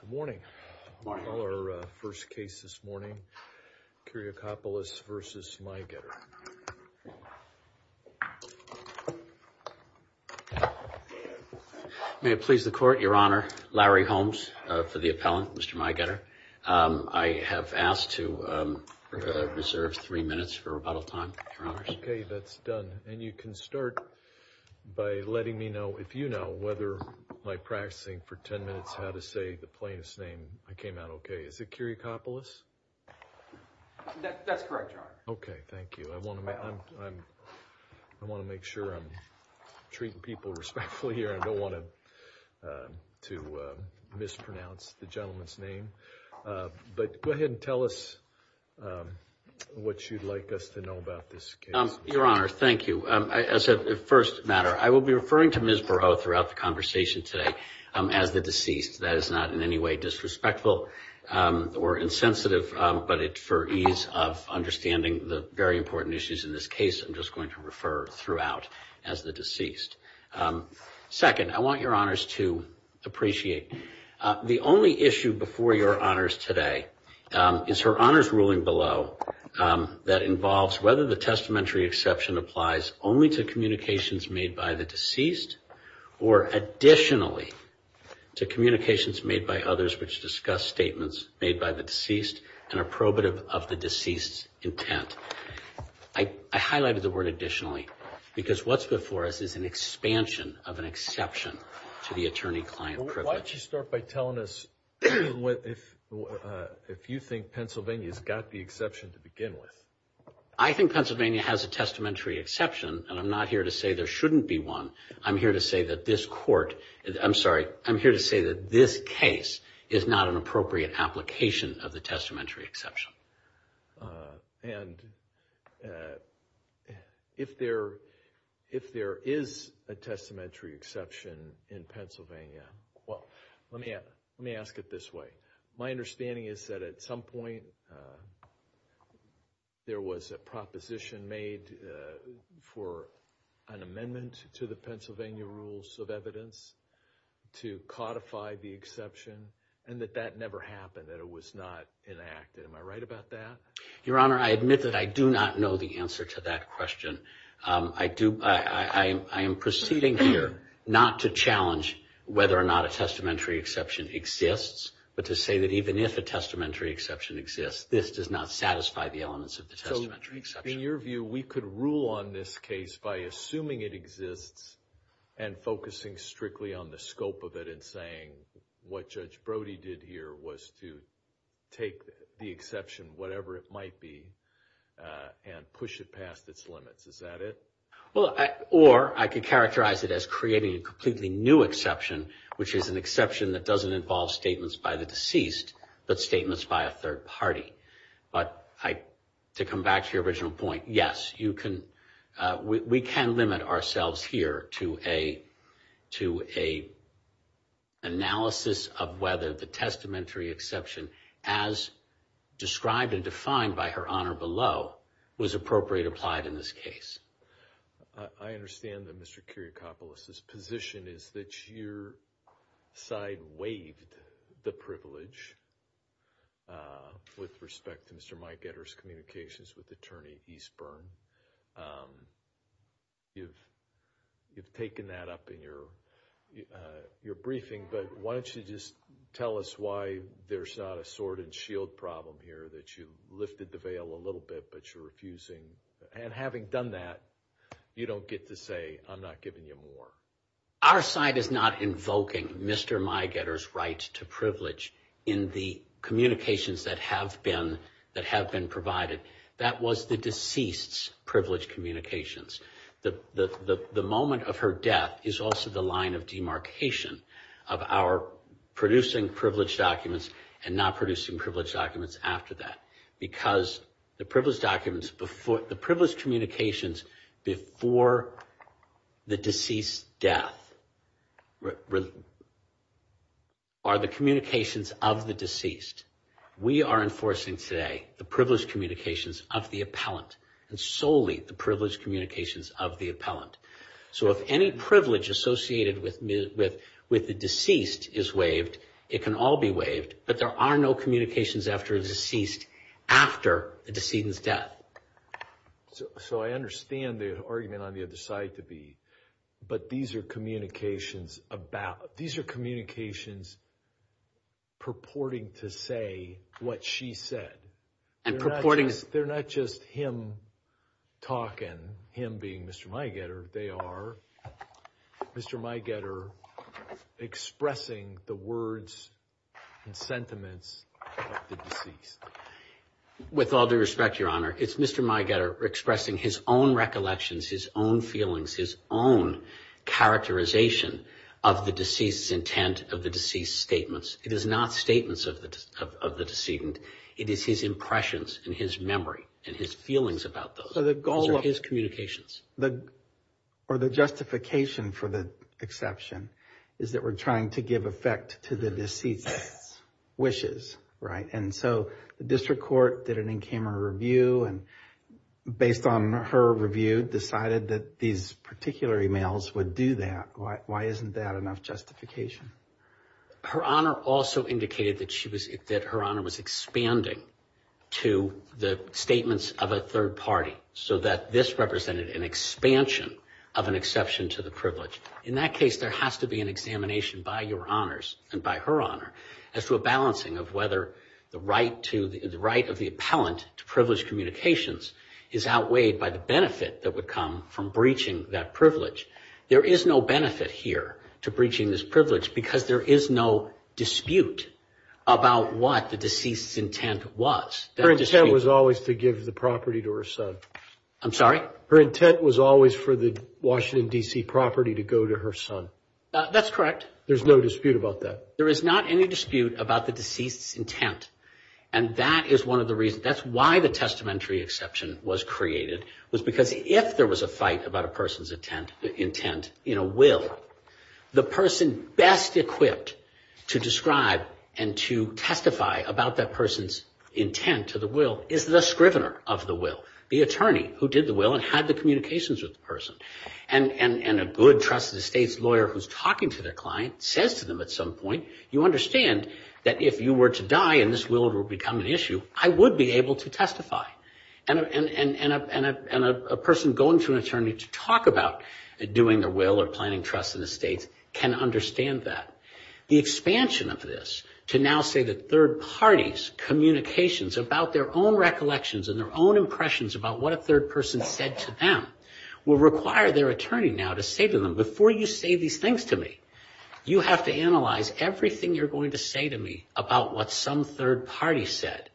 Good morning. Our first case this morning, Kyriakpoulos v. Maigetter. May it please the court, your honor, Larry Holmes for the appellant, Mr. Maigetter. I have asked to reserve three minutes for rebuttal time, your honors. Okay, that's done. And you can start by letting me know, if you know, whether by practicing for ten minutes how to say the plaintiff's name, I came out okay. Is it Kyriakpoulos? That's correct, your honor. Okay, thank you. I want to make sure I'm treating people respectfully here. I don't want to mispronounce the gentleman's name. But go ahead and tell us what you'd like us to know about this case. Your honor, thank you. As a first matter, I will be referring to Ms. Burrough throughout the conversation today as the deceased. That is not in any way disrespectful or insensitive. But for ease of understanding the very important issues in this case, I'm just going to refer throughout as the deceased. Second, I want your honors to appreciate the only issue before your honors today is her honors ruling below that involves whether the testamentary exception applies only to communications made by the deceased or additionally to communications made by others which discuss statements made by the deceased and are probative of the deceased's intent. I highlighted the word additionally because what's before us is an expansion of an exception to the attorney-client privilege. Why don't you start by telling us if you think Pennsylvania's got the exception to begin with. I think Pennsylvania has a testamentary exception and I'm not here to say there shouldn't be one. I'm here to say that this court, I'm sorry, I'm here to say that this case is not an appropriate application of the testamentary exception. And if there is a testamentary exception in Pennsylvania, well, let me ask it this way. My understanding is that at some point there was a proposition made for an amendment to the Pennsylvania Rules of Evidence to codify the exception and that that never happened, that it was not enacted. Am I right about that? Your honor, I admit that I do not know the answer to that question. I am proceeding here not to challenge whether or not a testamentary exception exists, but to say that even if a testamentary exception exists, this does not satisfy the elements of the testamentary exception. In your view, we could rule on this case by assuming it exists and focusing strictly on the scope of it and saying what Judge Brody did here was to take the exception, whatever it might be, and push it past its limits. Is that it? Or I could characterize it as creating a completely new exception, which is an exception that doesn't involve statements by the deceased, but statements by a third party. But to come back to your original point, yes, we can limit ourselves here to an analysis of whether the testamentary exception, as described and defined by Her Honor below, was appropriate applied in this case. I understand that Mr. Kiriakopoulos' position is that your side waived the privilege with respect to Mr. Mike Getter's communications with Attorney Eastburn. You've taken that up in your briefing, but why don't you just tell us why there's not a sword and shield problem here, that you lifted the veil a little bit, but you're refusing, and having done that, you don't get to say, I'm not giving you more. Our side is not invoking Mr. Mike Getter's right to privilege in the communications that have been provided. That was the deceased's privileged communications. The moment of her death is also the line of demarcation of our producing privileged documents, and not producing privileged documents after that, because the privileged communications before the deceased's death are the communications of the deceased. We are enforcing today the privileged communications of the appellant, and solely the privileged communications of the appellant. So if any privilege associated with the deceased is waived, it can all be waived, but there are no communications after a deceased, after the decedent's death. So I understand the argument on the other side to be, but these are communications about, purporting to say what she said. They're not just him talking, him being Mr. Mike Getter. They are Mr. Mike Getter expressing the words and sentiments of the deceased. With all due respect, Your Honor, it's Mr. Mike Getter expressing his own recollections, his own feelings, his own characterization of the deceased's intent, of the deceased's statements. It is not statements of the decedent. It is his impressions and his memory and his feelings about those. The justification for the exception is that we're trying to give effect to the deceased's wishes, right? And so the district court did an in-camera review, and based on her review, decided that these particular emails would do that. Why isn't that enough justification? Her Honor also indicated that her Honor was expanding to the statements of a third party, so that this represented an expansion of an exception to the privilege. In that case, there has to be an examination by Your Honors and by her Honor as to a balancing of whether the right of the appellant to privileged communications is outweighed by the benefit that would come from breaching that privilege. There is no benefit here to breaching this privilege because there is no dispute about what the deceased's intent was. Her intent was always to give the property to her son. That's correct. There is no dispute about that. There is not any dispute about the deceased's intent, and that is one of the reasons. That's why the testamentary exception was created, was because if there was a fight about a person's intent in a will, the person best equipped to describe and to testify about that person's intent to the will is the scrivener of the will, the attorney who did the will and had the communications with the person. And a good, trusted estate's lawyer who's talking to their client says to them at some point, you understand that if you were to die and this will had become an issue, I would be able to testify. And a person going to an attorney to talk about doing their will or planning trust in the estate can understand that. The expansion of this to now say that third parties' communications about their own recollections and their own impressions about what a third person said to them will require their attorney now to say to them, before you say these things to me, you have to analyze everything you're going to say to me about what some third party said.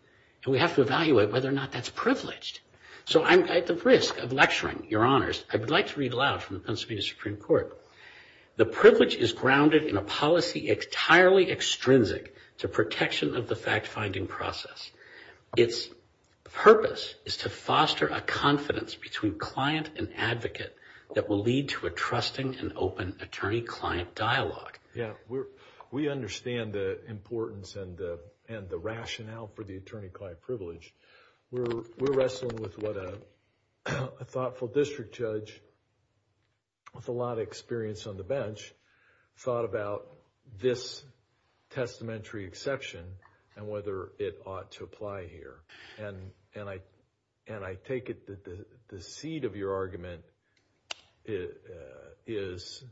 And we have to evaluate whether or not that's privileged. So I'm at the risk of lecturing, Your Honors. I would like to read aloud from the Pennsylvania Supreme Court. The privilege is grounded in a policy entirely extrinsic to protection of the fact-finding process. Its purpose is to foster a confidence between client and advocate that will lead to a trusting and open attorney-client dialogue. Yeah, we understand the importance and the rationale for the attorney-client privilege. We're wrestling with what a thoughtful district judge with a lot of experience on the bench thought about this testamentary exception and whether it ought to apply here. And I take it that the seed of your argument is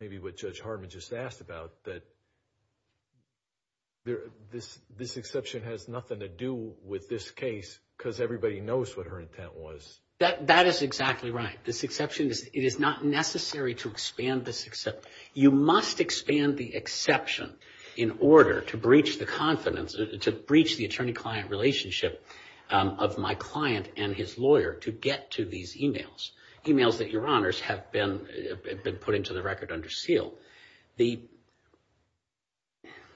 maybe what Judge Hardman just asked about, that this exception has nothing to do with this case because everybody knows what her intent was. That is exactly right. This exception, it is not necessary to expand this exception. You must expand the exception in order to breach the confidence, to breach the attorney-client relationship of my client and his lawyer to get to these emails, emails that, Your Honors, have been put into the record under seal. The,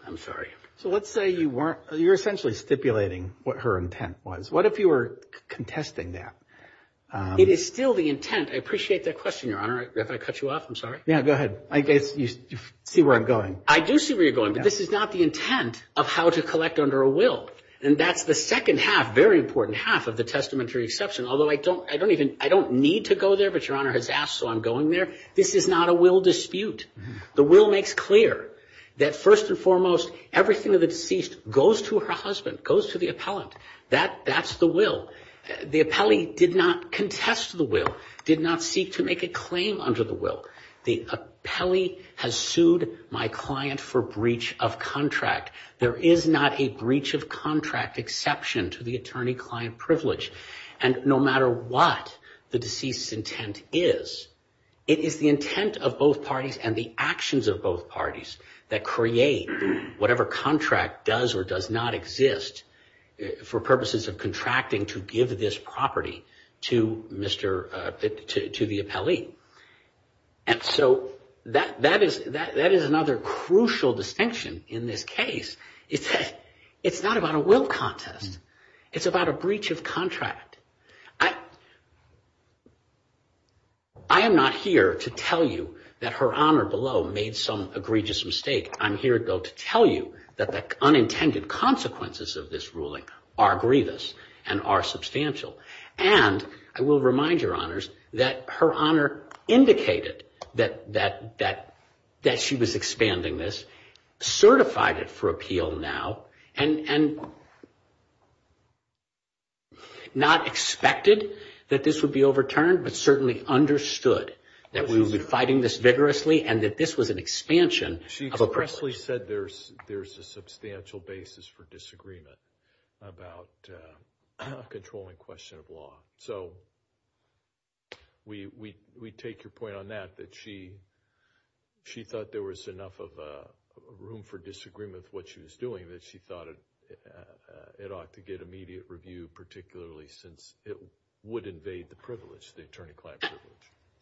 I'm sorry. So let's say you weren't, you're essentially stipulating what her intent was. What if you were contesting that? It is still the intent. I appreciate that question, Your Honor. If I cut you off, I'm sorry. Yeah, go ahead. I guess you see where I'm going. I do see where you're going, but this is not the intent of how to collect under a will. And that's the second half, very important half of the testamentary exception, although I don't even, I don't need to go there, but Your Honor has asked, so I'm going there. This is not a will dispute. The will makes clear that first and foremost, everything of the deceased goes to her husband, goes to the appellant. That's the will. The appellee did not contest the will, did not seek to make a claim under the will. The appellee has sued my client for breach of contract. There is not a breach of contract exception to the attorney-client privilege. And no matter what the deceased's intent is, it is the intent of both parties and the actions of both parties that create whatever contract does or does not exist for purposes of contracting to give this property to Mr., to the appellee. And so that is another crucial distinction in this case. It's not about a will contest. It's about a breach of contract. I am not here to tell you that Her Honor below made some egregious mistake. I'm here, though, to tell you that the unintended consequences of this ruling are grievous and are substantial. And I will remind Your Honors that Her Honor indicated that she was expanding this, certified it for appeal now, and not expected that this would be overturned, but certainly understood that we would be fighting this vigorously and that this was an expansion of a privilege. She expressly said there's a substantial basis for disagreement about controlling questions.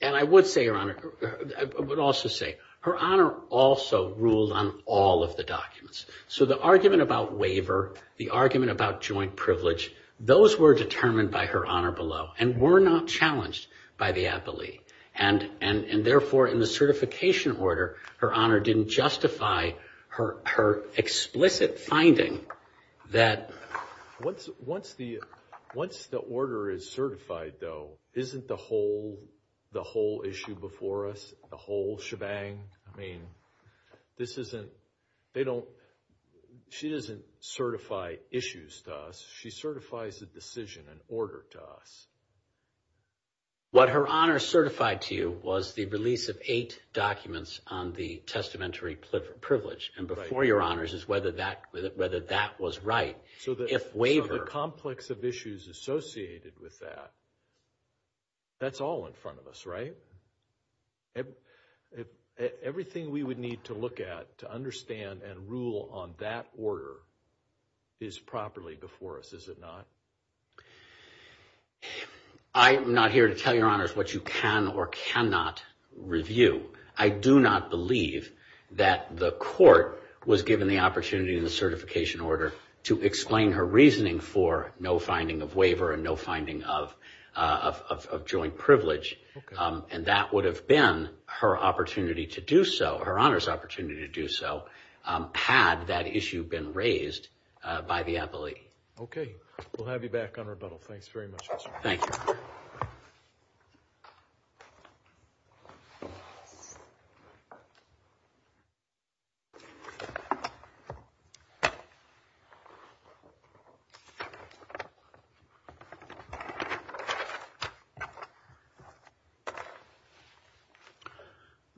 And I would say, Your Honor, I would also say Her Honor also ruled on all of the documents. So the argument about waiver, the argument about joint privilege, those were determined by Her Honor below and were not challenged by the appellee. And therefore, in the certification order, Her Honor didn't justify her explicit finding that... Once the order is certified, though, isn't the whole issue before us, the whole shebang? I mean, this isn't... She doesn't certify issues to us. She certifies the decision and order to us. What Her Honor certified to you was the release of eight documents on the testamentary privilege. And before Your Honors is whether that was right. So the complex of issues associated with that, that's all in front of us, right? Everything we would need to look at to understand and rule on that order is properly before us, is it not? I am not here to tell Your Honors what you can or cannot review. I do not believe that the court was given the opportunity in the certification order to explain her reasoning for no finding of waiver and no finding of joint privilege. And that would have been her opportunity to do so, Her Honor's opportunity to do so, had that issue been raised by the appellee. Okay. We'll have you back on rebuttal. Thanks very much. You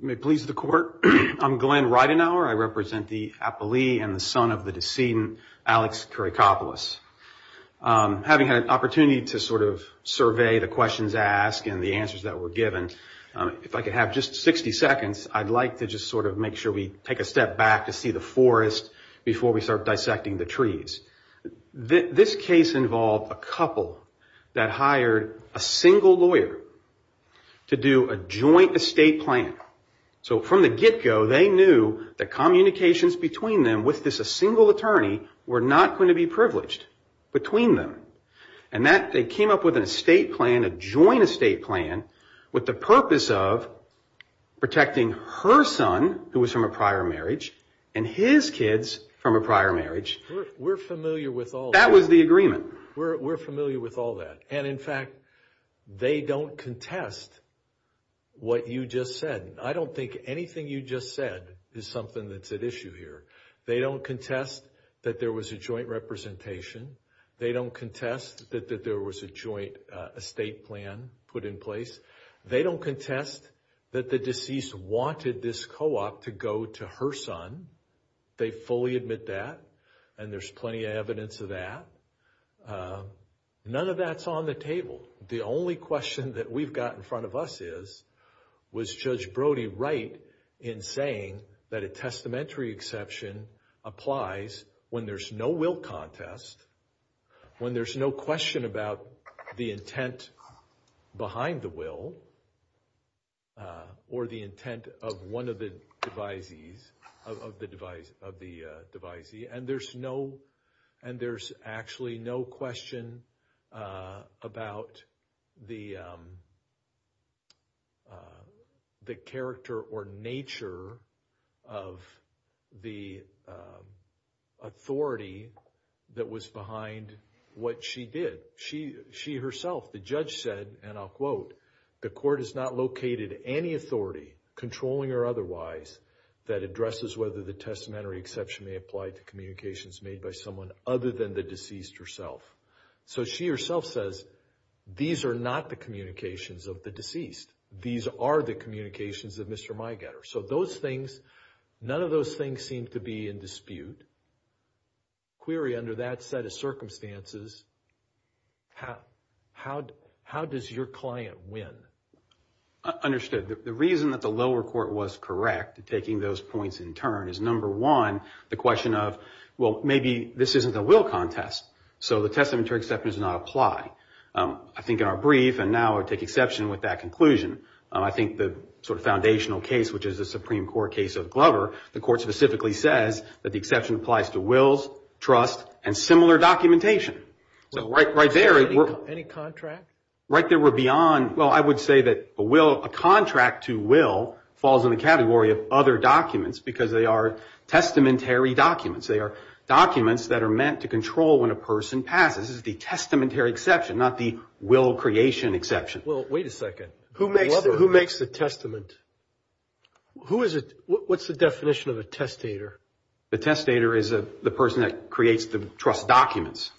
may please the court. I'm Glenn Reidenauer. I represent the appellee and the son of the decedent, Alex Kurikopoulos. Having had an opportunity to sort of survey the questions asked and the answers that were given, if I could have just 60 seconds, I'd like to just sort of make sure we take a step back to see the forest before we start dissecting the trees. This case involved a couple that hired a single lawyer to do a joint estate plan. So from the get-go, they knew that communications between them with this single attorney were not going to be privileged between them. And that they came up with an estate plan, a joint estate plan, with the purpose of protecting her son, who was from a prior marriage, and his kids from a prior marriage. We're familiar with all that. That was the agreement. We're familiar with all that. And in fact, they don't contest what you just said. I don't think anything you just said is something that's at issue here. They don't contest that there was a joint representation. They don't contest that there was a joint estate plan put in place. They don't contest that the deceased wanted this co-op to go to her son. They fully admit that, and there's plenty of evidence of that. None of that's on the table. The only question that we've got in front of us is, was Judge Brody right in saying that a testamentary exception applies when there's no will contest, when there's no question about the intent behind the will, or the intent of one of the devisees, of the devisee. And there's no, and there's actually no question about the character or nature of the authority that was behind what she did. She herself, the judge said, and I'll quote, So she herself says, these are not the communications of the deceased. These are the communications of Mr. Miegetter. So those things, none of those things seem to be in dispute. Query under that set of circumstances, how does your client win? Understood. The reason that the lower court was correct in taking those points in turn is, number one, the question of, well, maybe this isn't a will contest, so the testamentary exception does not apply. I think in our brief, and now I'll take exception with that conclusion, I think the sort of foundational case, which is the Supreme Court case of Glover, the court specifically says that the exception applies to wills, trust, and similar documentation. So right there, right there we're beyond, well, I would say that a will, a contract to will falls in the category of other documents because they are testamentary documents. They are documents that are meant to control when a person passes. This is the testamentary exception, not the will creation exception. Well, wait a second. Who makes the testament? What's the definition of a testator? The testator is the person that creates the trust documents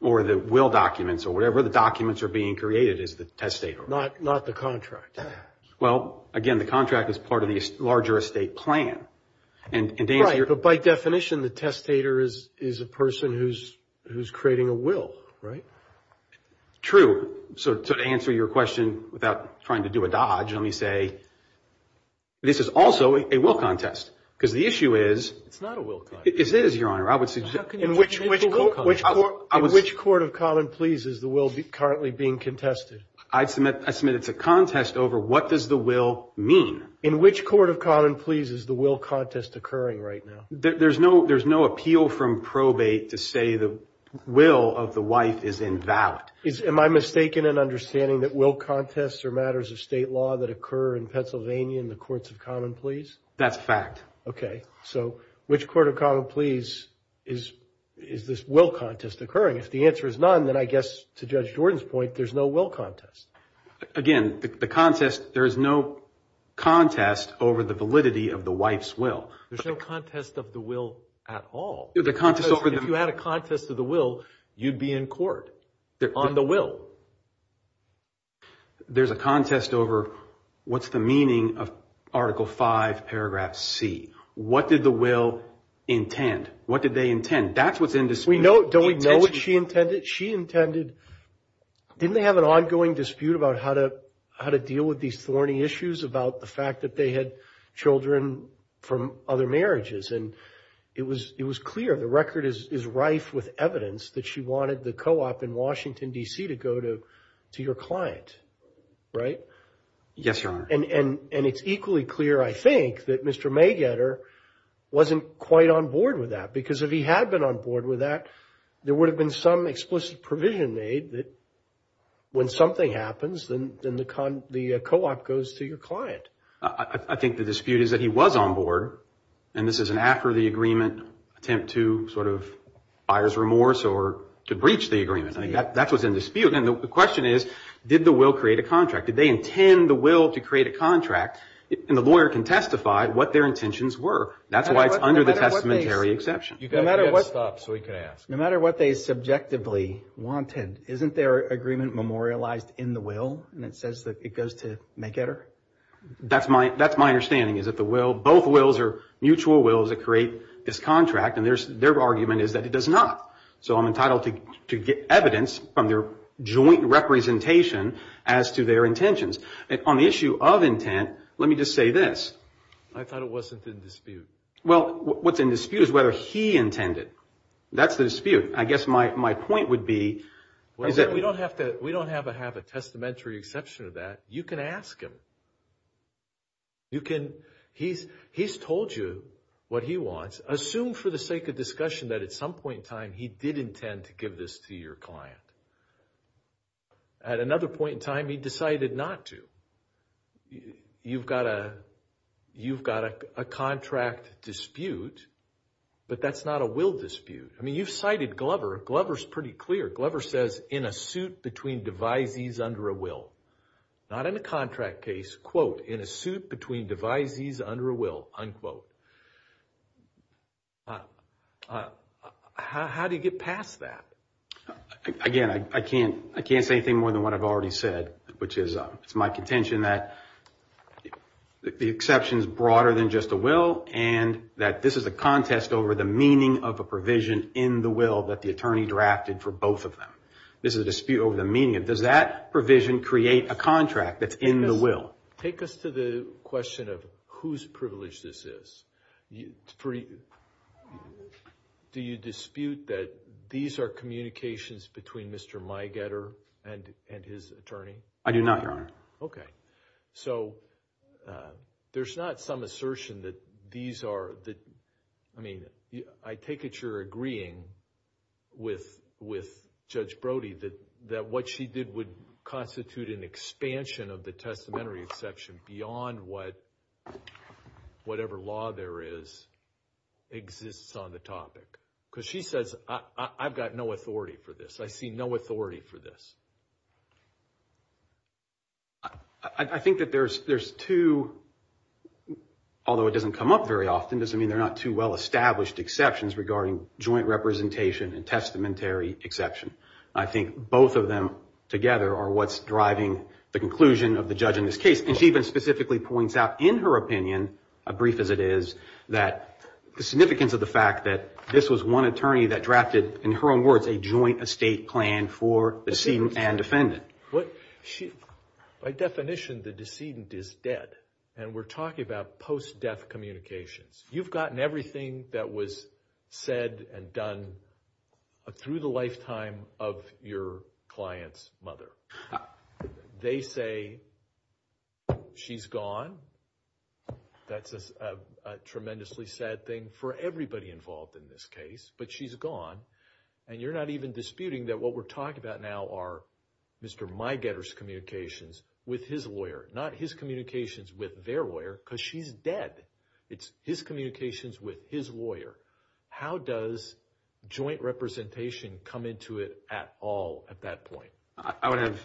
or the will documents or whatever the documents are being created is the testator. Not the contract. Well, again, the contract is part of the larger estate plan. Right, but by definition, the testator is a person who's creating a will, right? True. So to answer your question without trying to do a dodge, let me say this is also a will contest because the issue is, It's not a will contest. It is, Your Honor. In which Court of Common Pleas is the will currently being contested? I submit it's a contest over what does the will mean? In which Court of Common Pleas is the will contest occurring right now? There's no appeal from probate to say the will of the wife is invalid. Am I mistaken in understanding that will contests are matters of State law that occur in Pennsylvania in the Courts of Common Pleas? That's a fact. Okay. So which Court of Common Pleas is this will contest occurring? If the answer is none, then I guess to Judge Jordan's point, there's no will contest. Again, the contest, there is no contest over the validity of the wife's will. There's no contest of the will at all. If you had a contest of the will, you'd be in court on the will. There's a contest over what's the meaning of Article 5, Paragraph C. What did the will intend? What did they intend? That's what's in dispute. Do we know what she intended? Didn't they have an ongoing dispute about how to deal with these thorny issues about the fact that they had children from other marriages? And it was clear, the record is rife with evidence that she wanted the co-op in Washington, D.C. to go to your client, right? Yes, Your Honor. And it's equally clear, I think, that Mr. Maygetter wasn't quite on board with that. Because if he had been on board with that, there would have been some explicit provision made that when something happens, then the co-op goes to your client. I think the dispute is that he was on board, and this is an after the agreement attempt to sort of buyer's remorse or to breach the agreement. I think that's what's in dispute. And the question is, did the will create a contract? Did they intend the will to create a contract? And the lawyer can testify what their intentions were. That's why it's under the testamentary exception. No matter what they subjectively wanted, isn't their agreement memorialized in the will, and it says that it goes to Maygetter? That's my understanding, is that both wills are mutual wills that create this contract, and their argument is that it does not. So I'm entitled to get evidence from their joint representation as to their intentions. On the issue of intent, let me just say this. I thought it wasn't in dispute. Well, what's in dispute is whether he intended. That's the dispute. I guess my point would be... We don't have to have a testamentary exception to that. You can ask him. He's told you what he wants. Assume for the sake of discussion that at some point in time, he did intend to give this to your client. At another point in time, he decided not to. You've got a contract dispute, but that's not a will dispute. I mean, you've cited Glover. Glover's pretty clear. Glover says, Not in a contract case. In a suit between devisees under a will. How do you get past that? Again, I can't say anything more than what I've already said, which is it's my contention that the exception is broader than just a will, and that this is a contest over the meaning of a provision in the will that the attorney drafted for both of them. This is a dispute over the meaning. Does that provision create a contract that's in the will? Take us to the question of whose privilege this is. Do you dispute that these are communications between Mr. Mygetter and his attorney? I do not, Your Honor. Okay. So there's not some assertion that these are... I mean, I take it you're agreeing with Judge Brody that what she did would constitute an expansion of the testamentary exception beyond what whatever law there is exists on the topic. Because she says, I've got no authority for this. I see no authority for this. I think that there's two, although it doesn't come up very often, doesn't mean they're not two well-established exceptions regarding joint representation and testamentary exception. I think both of them together are what's driving the conclusion of the judge in this case. And she even specifically points out in her own words, a joint estate plan for decedent and defendant. By definition, the decedent is dead. And we're talking about post-death communications. You've gotten everything that was said and done through the lifetime of your client's mother. They say she's gone. That's a tremendously sad thing for everybody involved in this case. But she's gone. And you're not even disputing that what we're talking about now are Mr. Mygetter's communications with his lawyer, not his communications with their lawyer, because she's dead. It's his communications with his lawyer. How does joint representation come into it at all at that point? I would have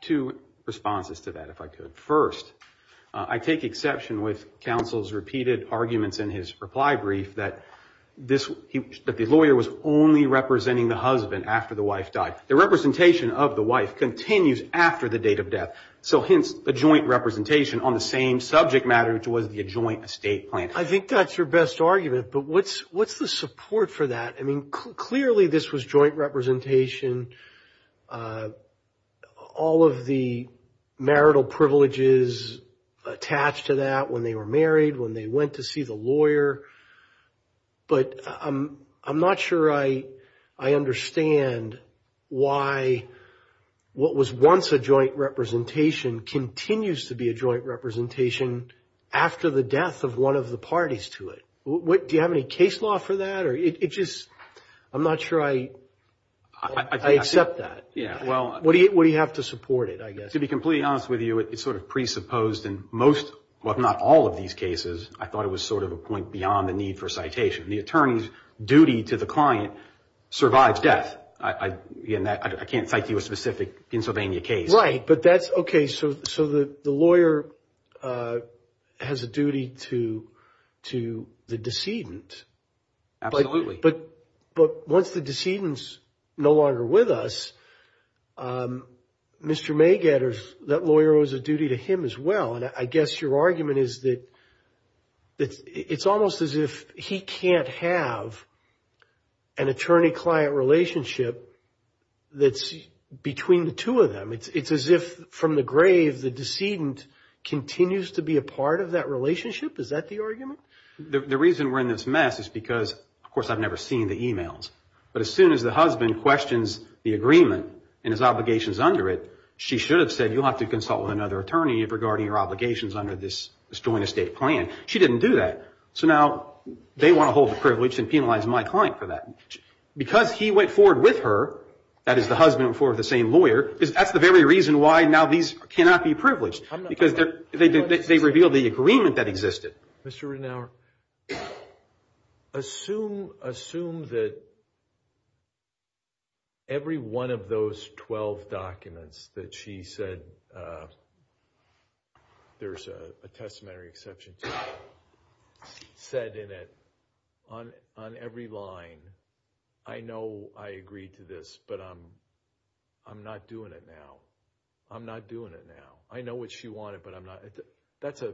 two responses to that, if I could. First, I take exception with counsel's repeated arguments in his reply brief that the lawyer was only representing the husband after the wife died. The representation of the wife continues after the date of death. So hence, the joint representation on the same subject matter, which was the joint estate plan. I think that's your best argument. But what's the support for that? I mean, clearly this was joint representation. All of the marital privileges attached to that when they were married, when they went to see the lawyer. But I'm not sure I understand why what was once a joint representation continues to be a joint representation after the death of one of the parties to it. Do you have any case law for that? I'm not sure I accept that. What do you have to support it, I guess? To be completely honest with you, it's sort of presupposed in most, well, not all of these cases. I thought it was sort of a point beyond the need for citation. The attorney's duty to the decedent. But that's OK. So the lawyer has a duty to the decedent. Absolutely. But once the decedent's no longer with us, Mr. Magad, that lawyer owes a duty to him as well. And I guess your argument is that it's almost as if he can't have an attorney-client relationship that's between the two of them. It's as if from the grave the decedent continues to be a part of that relationship. Is that the argument? The reason we're in this mess is because, of course, I've never seen the e-mails. But as soon as the husband questions the agreement and his obligations under it, she should have said, you'll have to consult with another attorney regarding your obligations under this joint estate plan. She didn't do that. So now they want to hold the privilege and penalize my client for that. Because he went forward with her, that is the husband and the same lawyer, that's the very reason why now these cannot be privileged. Because they revealed the agreement that existed. Mr. Renauer, assume that every one of those 12 documents that she said there's a testamentary exception to, said in it on every line, I know I agreed to this, but I'm not doing it now. I'm not doing it now. I know what she wanted, but I'm not. That's a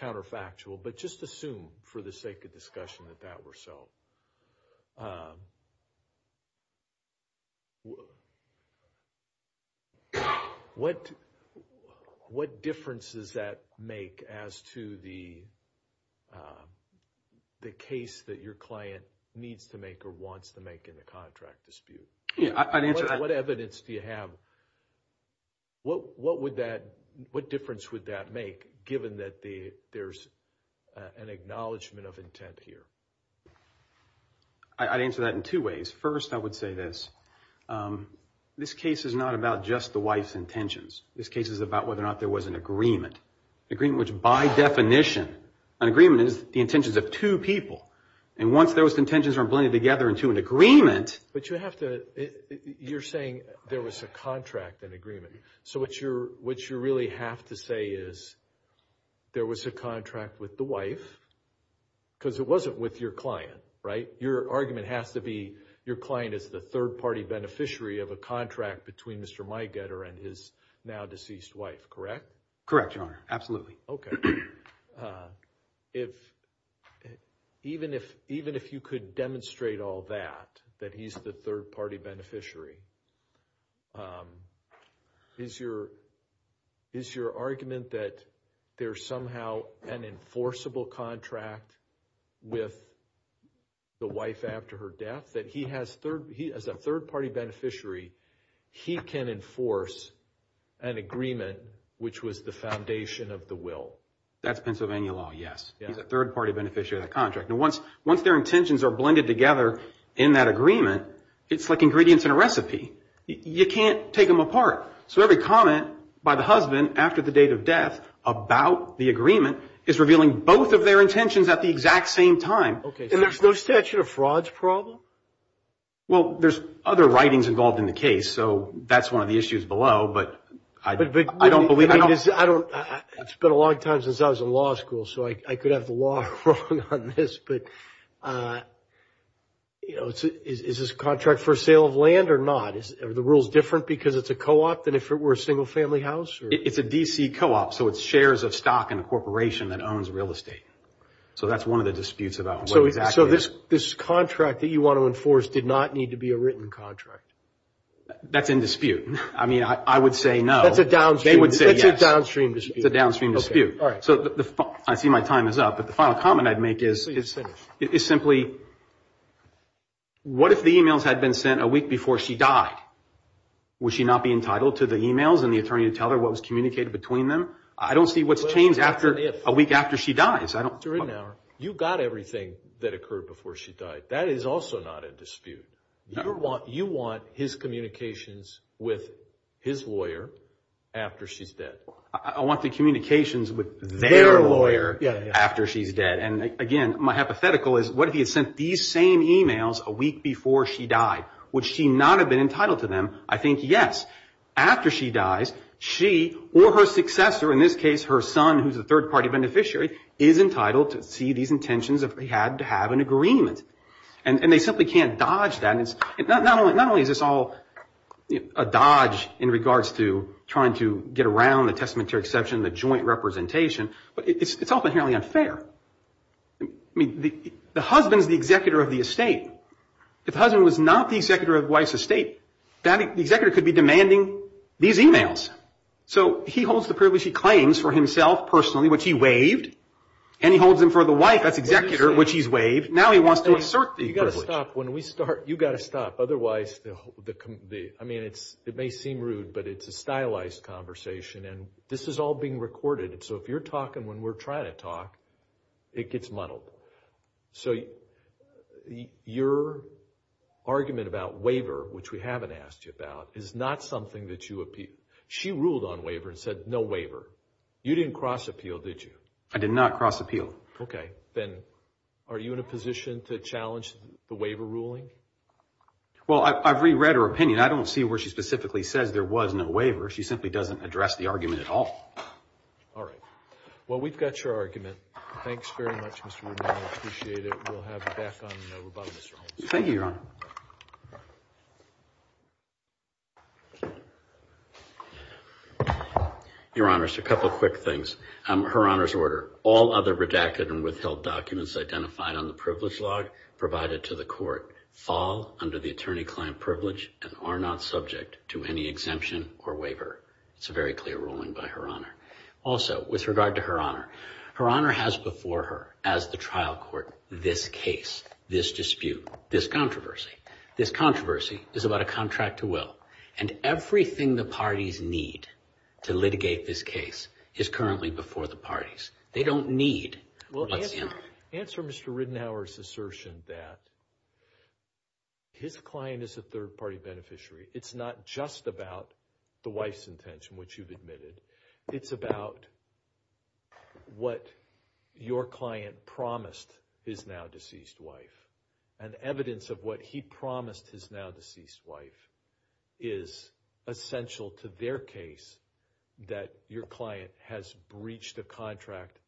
counterfactual, but just assume for the sake of discussion that that were so. What difference does that make as to the case that your client needs to make or wants to make in the contract dispute? What evidence do you have? What difference would that make given that there's an acknowledgment of intent here? I'd answer that in two ways. First, I would say this. This case is not about just the wife's intentions. This case is about whether or not there was an agreement. An agreement which by definition, an agreement is the intentions of two people. And once those intentions are blended together into an agreement. You're saying there was a contract, an agreement. So what you really have to say is there was a contract with the wife because it wasn't with your client, right? Your argument has to be your client is the third party beneficiary of a contract between Mr. Meigetter and his now deceased wife, correct? Correct, Your Honor. Absolutely. Even if you could demonstrate all that, that he's the third party beneficiary, is your argument that there's somehow an enforceable contract with the wife after her death, that he as a third party beneficiary, he can enforce an agreement which was the foundation of the will? That's Pennsylvania law, yes. He's a third party beneficiary of the contract. Now once their intentions are blended together in that agreement, it's like ingredients in a recipe. You can't take them apart. So every comment by the husband after the date of death about the agreement is revealing both of their intentions at the exact same time. And there's no statute of frauds problem? Well, there's other writings involved in the case, so that's one of the issues below, but I don't believe it. It's been a long time since I was in law school, so I could have the law wrong on this, but is this contract for sale of land or not? Is the rules different because it's a co-op than if it were a single family house? It's a D.C. co-op, so it's shares of stock in a corporation that owns real estate. So that's one of the disputes about what exactly is. So this contract that you want to enforce did not need to be a written contract? That's in dispute. I mean, I would say no. That's a downstream dispute. It's a downstream dispute. I see my time is up, but the final comment I'd make is simply, what if the e-mails had been sent a week before she died? Would she not be entitled to the e-mails and the attorney to tell her what was communicated between them? I don't see what's changed a week after she dies. You got everything that occurred before she died. That is also not a dispute. You want his communications with his lawyer after she's dead. I want the communications with their lawyer after she's dead. And again, my hypothetical is, what if he had sent these same e-mails a week before she died? Would she not have been entitled to them? I think yes. After she dies, she or her successor, in this case her son, who's a third-party beneficiary, is entitled to see these intentions if they had to have an agreement. And they simply can't dodge that. Not only is this all a dodge in regards to trying to get around the testamentary exception, the joint representation, but it's all inherently unfair. I mean, the husband's the executor of the estate. If the husband was not the executor of the wife's estate, the executor could be demanding these e-mails. So he holds the privilege he claims for himself personally, which he waived, and he holds them for the wife as executor, which he's waived. Now he wants to assert the privilege. You've got to stop. I mean, it may seem rude, but it's a stylized conversation, and this is all being recorded. So if you're talking when we're trying to talk, it gets muddled. So your argument about waiver, which we haven't asked you about, is not something that you appeal. She ruled on waiver and said no waiver. You didn't cross-appeal, did you? I did not cross-appeal. Okay. Then are you in a position to challenge the waiver ruling? Well, I've reread her opinion. I don't see where she specifically says there was no waiver. She simply doesn't address the argument at all. All right. Well, we've got your argument. Thanks very much, Mr. Rubin. I appreciate it. We'll have you back on the rebuttal, Mr. Holmes. Thank you, Your Honor. Your Honor, just a couple of quick things. Her Honor's order. All other redacted and withheld documents identified on the privilege log provided to the court fall under the attorney-client privilege and are not subject to any exemption or waiver. It's a very clear ruling by Her Honor. Also, with regard to Her Honor, Her Honor has before her as the trial court this case, this dispute, this controversy. This controversy is about a contract to will, and everything the parties need to litigate this case is currently before the parties. They don't need what's in it. Answer Mr. Ridenour's assertion that his client is a third-party beneficiary. It's not just about the wife's intention, which you've admitted. It's about what your client promised his now-deceased wife. And evidence of what he promised his now-deceased wife is essential to their case that your client has breached a contract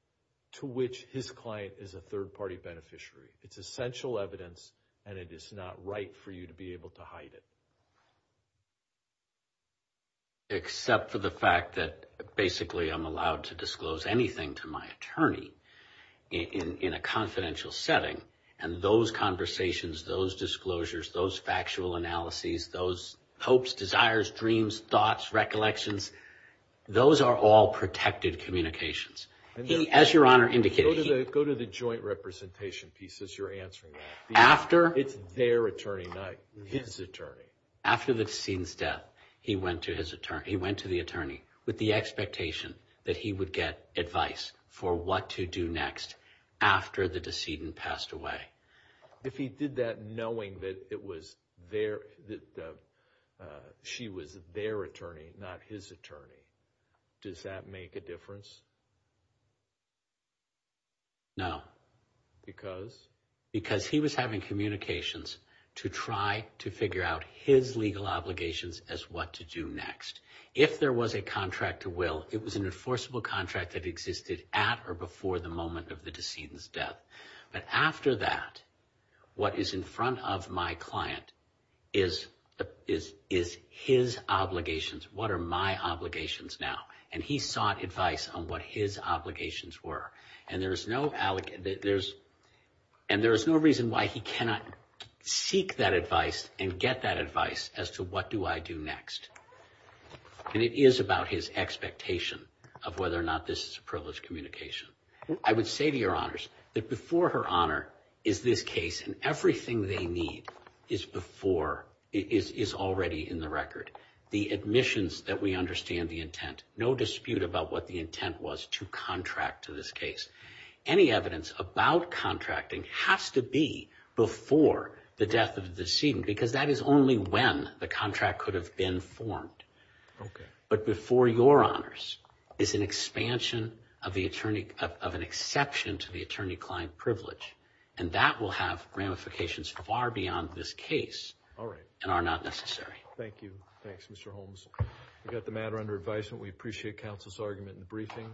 to which his client is a third-party beneficiary. It's essential evidence, and it is not right for you to be able to hide it. Except for the fact that basically I'm allowed to disclose anything to my attorney in a confidential setting, and those conversations, those disclosures, those factual analyses, those hopes, desires, dreams, thoughts, recollections, those are all protected communications. As Your Honor indicated... Go to the joint representation piece as you're answering that. It's their attorney, not his attorney. After the decedent's death, he went to the attorney with the expectation that he would get advice for what to do next after the decedent passed away. If he did that knowing that she was their attorney, not his attorney, does that make a difference? No. Because? Because he was having communications to try to figure out his legal obligations as what to do next. If there was a contract to will, it was an enforceable contract that existed at or before the moment of the decedent's death. But after that, what is in front of my client is his obligations. What are my obligations now? And he sought advice on what his obligations were. And there is no reason why he cannot seek that advice and get that advice as to what do I do next. And it is about his expectation of whether or not this is a privileged communication. I would say to Your Honors that before her honor is this case and everything they need is already in the record. The admissions that we understand the intent. No dispute about what the intent was to contract to this case. Any evidence about contracting has to be before the death of the decedent because that is only when the contract could have been formed. But before Your Honors is an expansion of an exception to the attorney-client privilege. And that will have ramifications far beyond this case and are not necessary. Thank you. Thanks Mr. Holmes. We got the matter under advisement. We appreciate counsel's argument in the briefing.